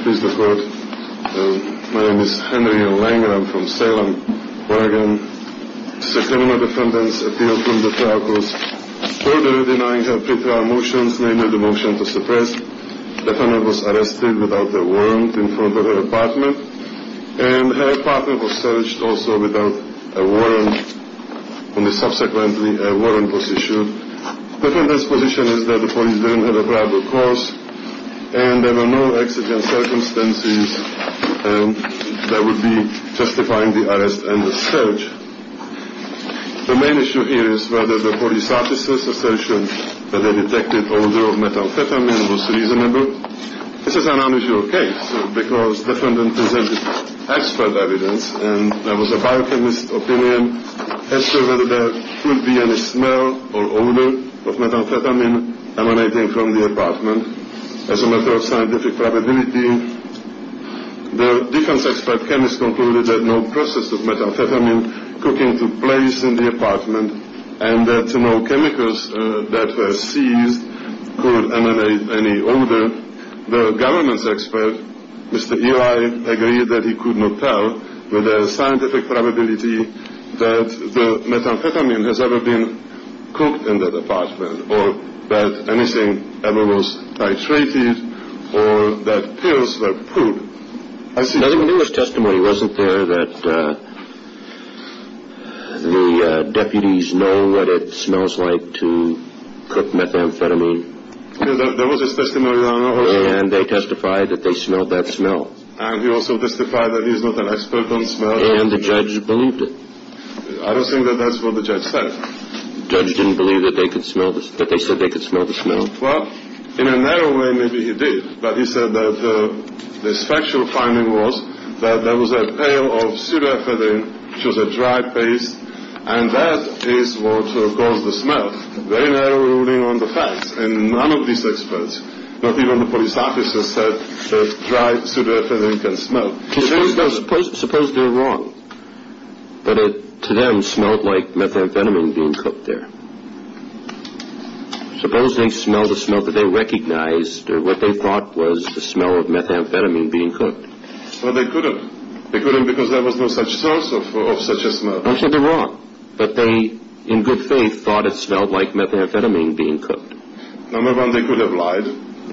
Please decode. My name is Henry Langer. I'm from Salem, Oregon. This is a criminal defendant's appeal from the trial court. Order in denying her pre-trial motions, namely the motion to suppress. The defendant was arrested without a warrant in front of her apartment. And her apartment was searched also without a warrant. Only subsequently a warrant was issued. Defendant's position is that the police didn't have a probable cause and there were no exigent circumstances that would be justifying the arrest and the search. The main issue here is whether the police officer's assertion that they detected odor of methamphetamine was reasonable. This is an unusual case because defendant presented expert evidence and there was a biochemist's opinion as to whether there could be any smell or odor of methamphetamine emanating from the apartment. As a matter of scientific probability, the defense expert chemist concluded that no process of methamphetamine cooking took place in the apartment and that no chemicals that were seized could emanate any odor. The government's expert, Mr. Eli, agreed that he could not tell with a scientific probability that the methamphetamine has ever been cooked in that apartment or that anything ever was titrated or that pills were put. There was testimony, wasn't there, that the deputies know what it smells like to cook methamphetamine? There was this testimony. And they testified that they smelled that smell. And he also testified that he's not an expert on smell. And the judge believed it. I don't think that that's what the judge said. Well, in a narrow way, maybe he did. But he said that the factual finding was that there was a pill of pseudoephedrine, which was a dry paste, and that is what caused the smell. Very narrow ruling on the facts. And none of these experts, not even the police officers, said that dry pseudoephedrine can smell. Suppose they're wrong, that it, to them, smelled like methamphetamine being cooked there. Suppose they smelled a smell that they recognized, or what they thought was the smell of methamphetamine being cooked. Well, they couldn't. They couldn't because there was no such source of such a smell. I said they're wrong. But they, in good faith, thought it smelled like methamphetamine being cooked. Number one, they could have lied.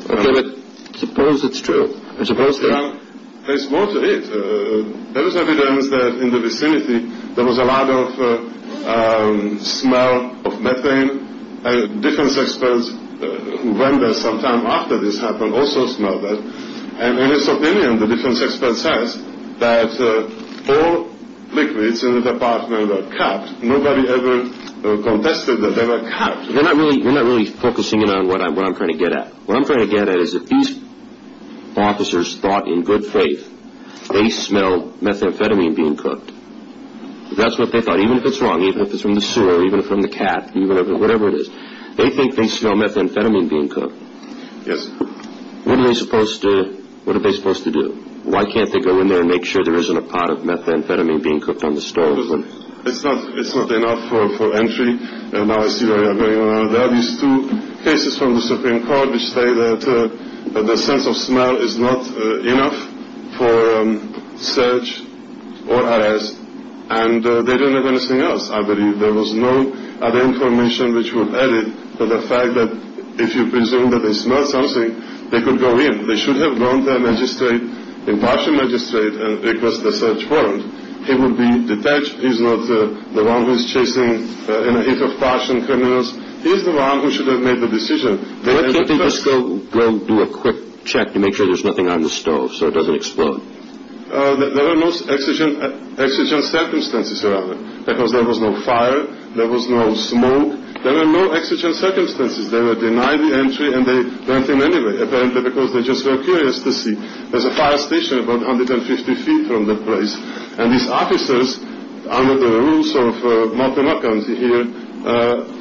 Okay, but suppose it's true. There's more to it. There is evidence that in the vicinity, there was a lot of smell of methane. Defense experts who went there sometime after this happened also smelled that. And in this opinion, the defense expert says that all liquids in the department were cupped. Nobody ever contested that they were cupped. We're not really focusing in on what I'm trying to get at. What I'm trying to get at is if these officers thought in good faith they smelled methamphetamine being cooked, if that's what they thought, even if it's wrong, even if it's from the sewer, even if it's from the cat, whatever it is, they think they smell methamphetamine being cooked. Yes. What are they supposed to do? Why can't they go in there and make sure there isn't a pot of methamphetamine being cooked on the stove? It's not enough for entry. There are these two cases from the Supreme Court which say that the sense of smell is not enough for search or arrest. And they don't have anything else, I believe. There was no other information which would add it to the fact that if you presume that they smelled something, they could go in. They should have gone to a magistrate, impartial magistrate, and requested a search warrant. He would be detached. He's not the one who is chasing in a heap of passion criminals. He's the one who should have made the decision. Why can't they just go do a quick check to make sure there's nothing on the stove so it doesn't explode? There were no exigent circumstances, rather, because there was no fire, there was no smoke. There were no exigent circumstances. They were denied the entry and they went in anyway, apparently because they just were curious to see. There's a fire station about 150 feet from the place. And these officers, under the rules of Montenegro here,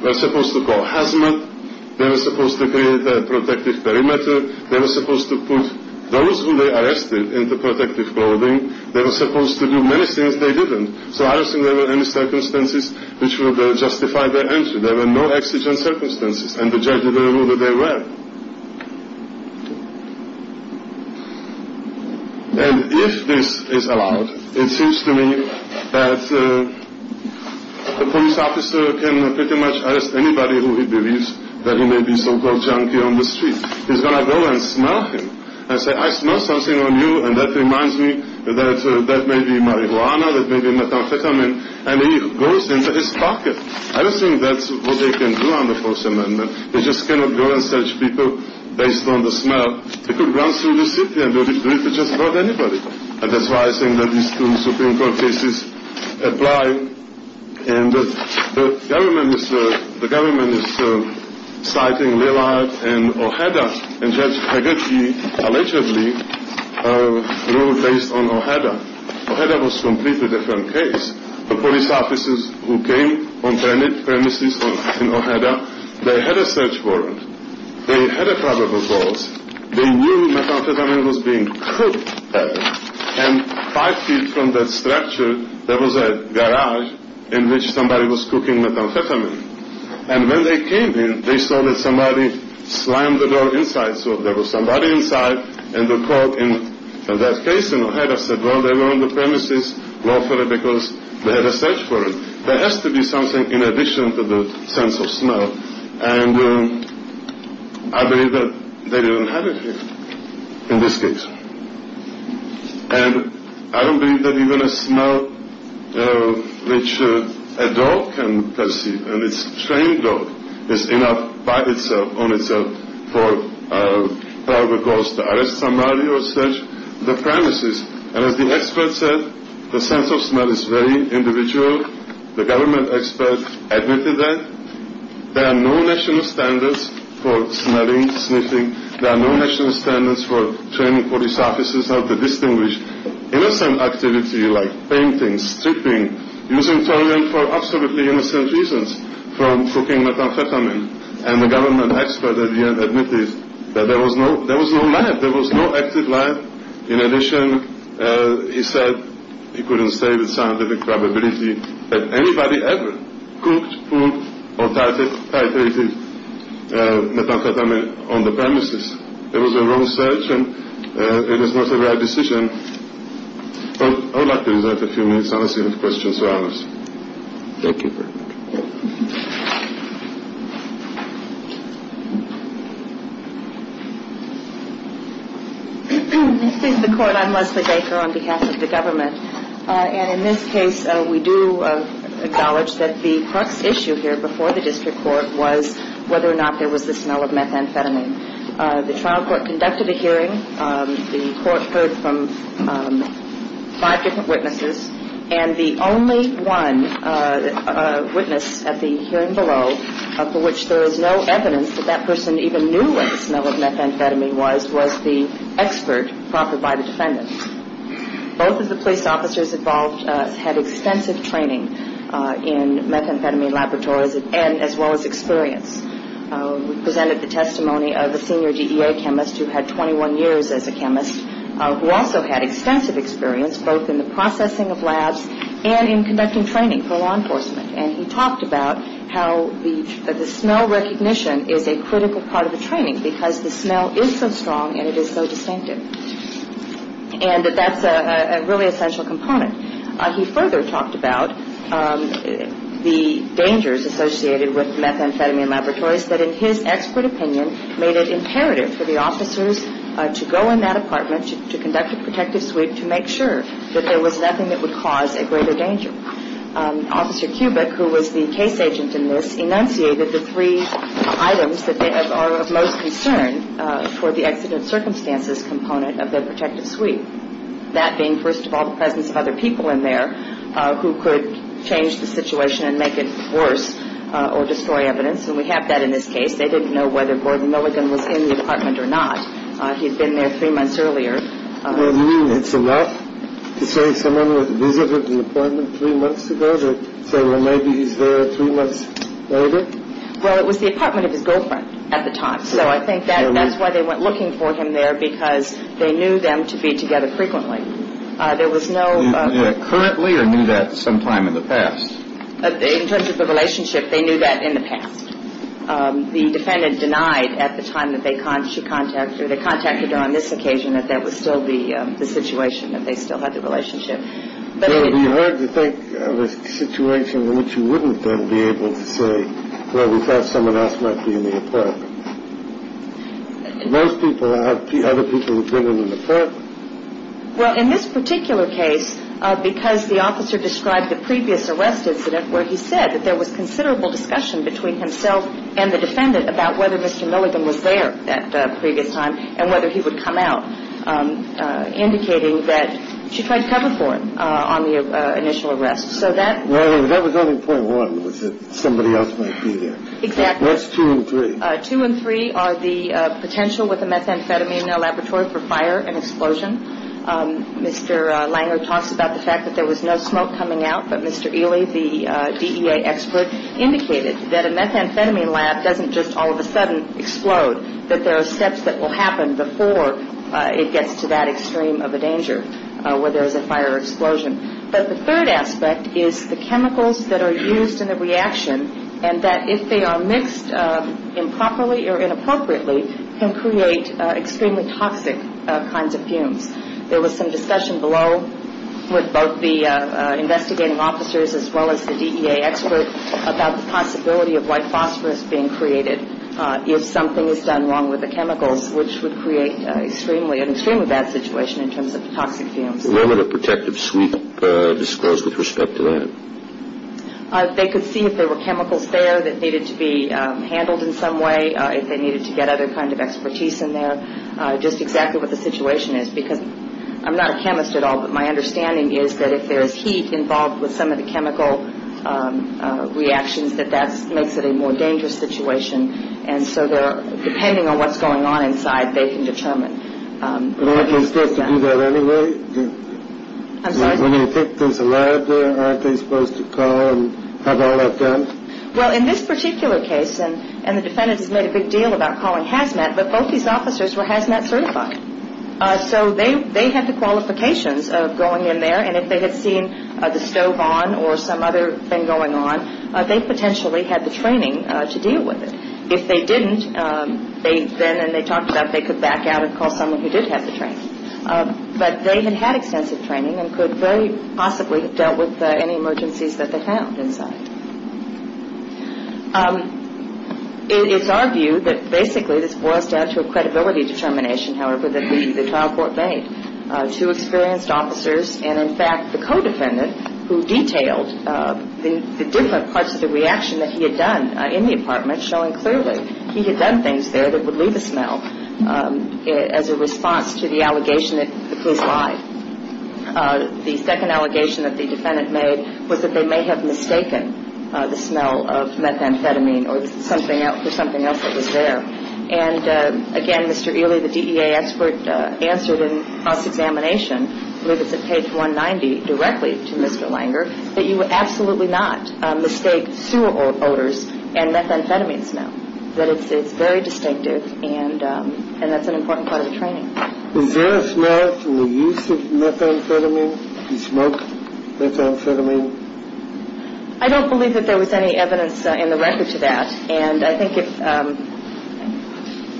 were supposed to wear a hazmat. They were supposed to create a protective perimeter. They were supposed to put those who they arrested into protective clothing. They were supposed to do many things they didn't. So I don't think there were any circumstances which would justify their entry. There were no exigent circumstances. And the judge didn't know that there were. And if this is allowed, it seems to me that a police officer can pretty much arrest anybody who he believes that he may be a so-called junkie on the street. He's going to go and smell him and say, I smell something on you and that reminds me that that may be marijuana, that may be methamphetamine. And he goes into his pocket. I don't think that's what they can do under the Fourth Amendment. They just cannot go and search people based on the smell. They could run through the city and do it to just about anybody. And that's why I think that these two Supreme Court cases apply. And the government is citing Lillard and Ojeda, and Judge Hagerty allegedly ruled based on Ojeda. Ojeda was a completely different case. The police officers who came on premises in Ojeda, they had a search warrant. They had a probable cause. They knew methamphetamine was being cooked there. And five feet from that structure, there was a garage in which somebody was cooking methamphetamine. And when they came in, they saw that somebody slammed the door inside. So there was somebody inside and the court in that case in Ojeda said, well, they were on the premises lawfully because they had a search warrant. There has to be something in addition to the sense of smell. And I believe that they didn't have it here in this case. And I don't believe that even a smell which a dog can perceive, and it's a trained dog, is enough by itself, on itself, for a probable cause to arrest somebody or search the premises. And as the expert said, the sense of smell is very individual. The government expert admitted that. There are no national standards for smelling, sniffing. There are no national standards for training police officers how to distinguish innocent activity like painting, stripping, using toilet for absolutely innocent reasons from cooking methamphetamine. And the government expert at the end admitted that there was no lab. There was no active lab. In addition, he said, he couldn't say with scientific probability, that anybody ever cooked, pulled, or titrated methamphetamine on the premises. It was a wrong search, and it is not a right decision. I would like to reserve a few minutes on a series of questions for others. Thank you very much. This is the court. I'm Leslie Baker on behalf of the government. And in this case, we do acknowledge that the crux issue here before the district court was whether or not there was the smell of methamphetamine. The trial court conducted a hearing. The court heard from five different witnesses, and the only one witness at the hearing below for which there is no evidence that that person even knew what the smell of methamphetamine was, was the expert brought before the defendants. Both of the police officers involved had extensive training in methamphetamine laboratories as well as experience. We presented the testimony of a senior DEA chemist who had 21 years as a chemist, who also had extensive experience both in the processing of labs and in conducting training for law enforcement. And he talked about how the smell recognition is a critical part of the training because the smell is so strong and it is so distinctive. And that that's a really essential component. He further talked about the dangers associated with methamphetamine laboratories that in his expert opinion made it imperative for the officers to go in that apartment, to conduct a protective sweep to make sure that there was nothing that would cause a greater danger. Officer Kubik, who was the case agent in this, enunciated the three items that are of most concern for the accident circumstances component of the protective sweep. That being, first of all, the presence of other people in there who could change the situation and make it worse or destroy evidence. And we have that in this case. They didn't know whether Gordon Milligan was in the apartment or not. He had been there three months earlier. You mean it's allowed to say someone visited the apartment three months ago to say, well, maybe he's there three months later? Well, it was the apartment of his girlfriend at the time. So I think that's why they went looking for him there, because they knew them to be together frequently. There was no. Currently or knew that sometime in the past? In terms of the relationship, they knew that in the past. The defendant denied at the time that they should contact her. They contacted her on this occasion that that was still the situation, that they still had the relationship. So it would be hard to think of a situation in which you wouldn't then be able to say, well, we thought someone else might be in the apartment. Most people have other people have been in the apartment. Well, in this particular case, because the officer described the previous arrest incident where he said that there was considerable discussion between himself and the defendant about whether Mr. Milligan was there that previous time and whether he would come out, indicating that she tried to cover for him on the initial arrest. So that was only point one was that somebody else might be there. Exactly. That's two and three. Two and three are the potential with a methamphetamine laboratory for fire and explosion. Mr. Langer talks about the fact that there was no smoke coming out. But Mr. Ely, the DEA expert, indicated that a methamphetamine lab doesn't just all of a sudden explode, that there are steps that will happen before it gets to that extreme of a danger where there is a fire or explosion. But the third aspect is the chemicals that are used in the reaction and that if they are mixed improperly or inappropriately can create extremely toxic kinds of fumes. There was some discussion below with both the investigating officers as well as the DEA expert about the possibility of white phosphorus being created if something is done wrong with the chemicals, which would create an extremely bad situation in terms of toxic fumes. Where would a protective sweep disclose with respect to that? They could see if there were chemicals there that needed to be handled in some way, if they needed to get other kinds of expertise in there, just exactly what the situation is, because I'm not a chemist at all, but my understanding is that if there is heat involved with some of the chemical reactions, that that makes it a more dangerous situation. And so depending on what's going on inside, they can determine. But aren't they supposed to do that anyway? I'm sorry? When you think there's a lab there, aren't they supposed to call and have all that done? Well, in this particular case, and the defendant has made a big deal about calling Hazmat, but both these officers were Hazmat certified. So they had the qualifications of going in there, and if they had seen the stove on or some other thing going on, they potentially had the training to deal with it. If they didn't, then, as they talked about, they could back out and call someone who did have the training. But they had had extensive training and could very possibly have dealt with any emergencies that they found inside. It's our view that basically this boils down to a credibility determination, however, that the trial court made. Two experienced officers and, in fact, the co-defendant, who detailed the different parts of the reaction that he had done in the apartment, showing clearly he had done things there that would leave a smell as a response to the allegation that it was live. The second allegation that the defendant made was that they may have mistaken the smell of methamphetamine for something else that was there. And, again, Mr. Ealy, the DEA expert, answered in cross-examination, I believe it's at page 190, directly to Mr. Langer, that you absolutely not mistake sewer odors and methamphetamine smell, that it's very distinctive and that's an important part of the training. Was there a smell to the use of methamphetamine, the smoked methamphetamine? I don't believe that there was any evidence in the record to that. And I think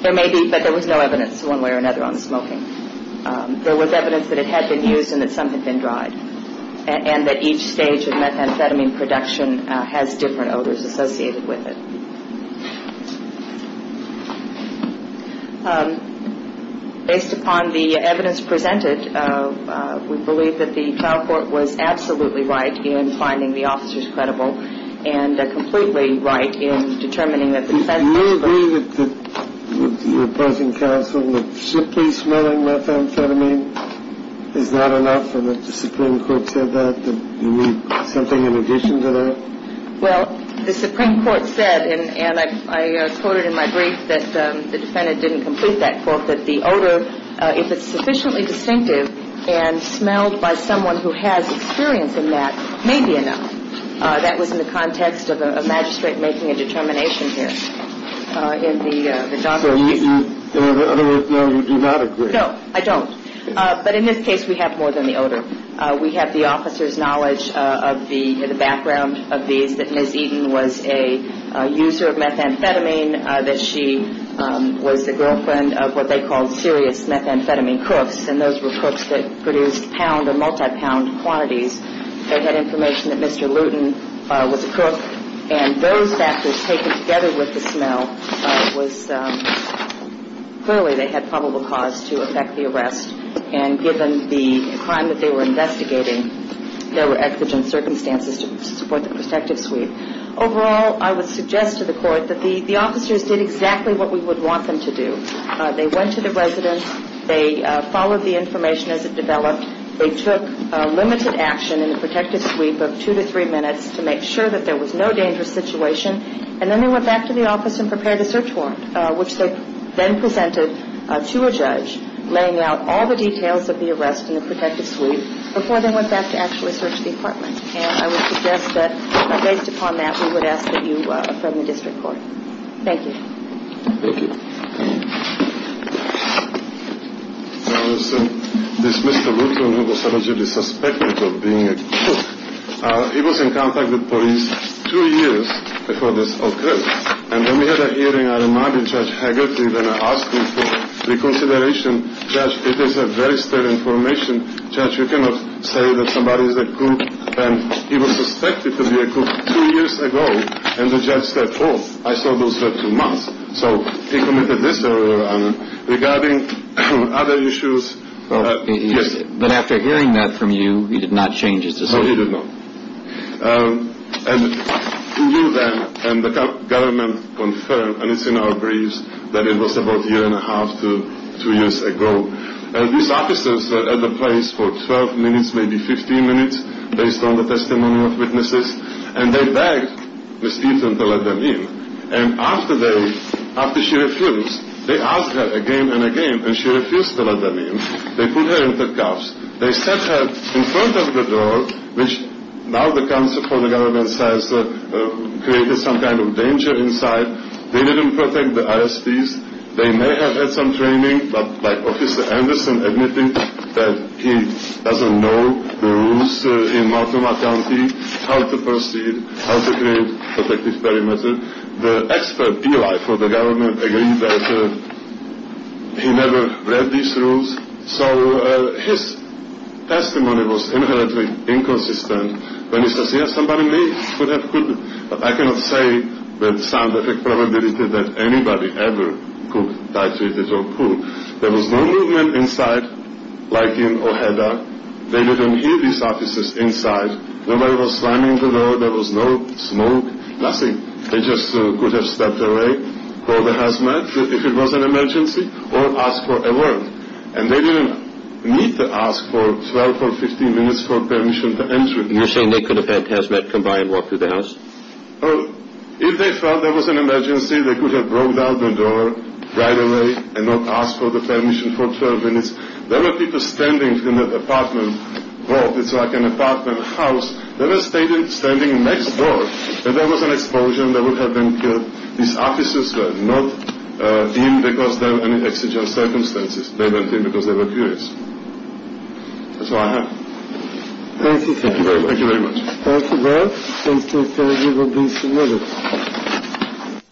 there may be, but there was no evidence one way or another on the smoking. There was evidence that it had been used and that some had been dried and that each stage of methamphetamine production has different odors associated with it. Based upon the evidence presented, we believe that the trial court was absolutely right in finding the officers credible and completely right in determining that the defendant was smoking. Do you agree with your present counsel that simply smelling methamphetamine is not enough and that the Supreme Court said that, that you need something in addition to that? Well, the Supreme Court said, and I quoted in my brief that the defendant didn't complete that quote, that the odor, if it's sufficiently distinctive and smelled by someone who has experience in that, may be enough. That was in the context of a magistrate making a determination here. In other words, no, you do not agree. No, I don't. But in this case, we have more than the odor. We have the officer's knowledge of the background of these, that Ms. Eaton was a user of methamphetamine, that she was the girlfriend of what they called serious methamphetamine cooks, and those were cooks that produced pound or multi-pound quantities. They had information that Mr. Luton was a cook, and those factors taken together with the smell was, clearly they had probable cause to affect the arrest. And given the crime that they were investigating, there were exigent circumstances to support the protective sweep. Overall, I would suggest to the Court that the officers did exactly what we would want them to do. They went to the residence. They followed the information as it developed. They took limited action in the protective sweep of two to three minutes to make sure that there was no dangerous situation, and then they went back to the office and prepared a search warrant, which they then presented to a judge, laying out all the details of the arrest in the protective sweep, before they went back to actually search the apartment. And I would suggest that, based upon that, we would ask that you affirm the district court. Thank you. Thank you. This Mr. Luton, who was allegedly suspected of being a cook, he was in contact with police two years before this occurred, and when we had a hearing, I reminded Judge Haggerty that I asked him for reconsideration. Judge, it is a very stale information. Judge, you cannot say that somebody is a cook, and he was suspected to be a cook two years ago, and the judge said, oh, I saw those were two months. So he committed this error, regarding other issues. But after hearing that from you, he did not change his decision? No, he did not. And we knew then, and the government confirmed, and it's in our briefs, that it was about a year and a half to two years ago. And these officers were at the place for 12 minutes, maybe 15 minutes, based on the testimony of witnesses, and they begged Ms. Peterson to let them in. And after she refused, they asked her again and again, and she refused to let them in. They put her in the cuffs. They set her in front of the door, which now the government says created some kind of danger inside. They didn't protect the ISPs. They may have had some training, but like Officer Anderson, admitting that he doesn't know the rules in Multnomah County, how to proceed, how to create protective perimeter. The expert for the government agreed that he never read these rules. So his testimony was inherently inconsistent. When he says, yes, somebody may have, could have, but I cannot say with sound effect probability that anybody ever could, titrated or could. There was no movement inside, like in Ojeda. They didn't hear these officers inside. Nobody was slamming the door. There was no smoke, nothing. They just could have stepped away, called the hazmat if it was an emergency, or asked for a warrant. And they didn't need to ask for 12 or 15 minutes for permission to enter. And you're saying they could have had hazmat come by and walk through the house? If they felt there was an emergency, they could have broke down the door right away and not ask for the permission for 12 minutes. There were people standing in the apartment hall. It's like an apartment house. They were standing next door. If there was an explosion, they would have been killed. These officers were not in because there were any exigent circumstances. They went in because they were curious. That's all I have. Thank you very much. Thank you very much. Thank you very much. Thank you, sir. You have been submitted.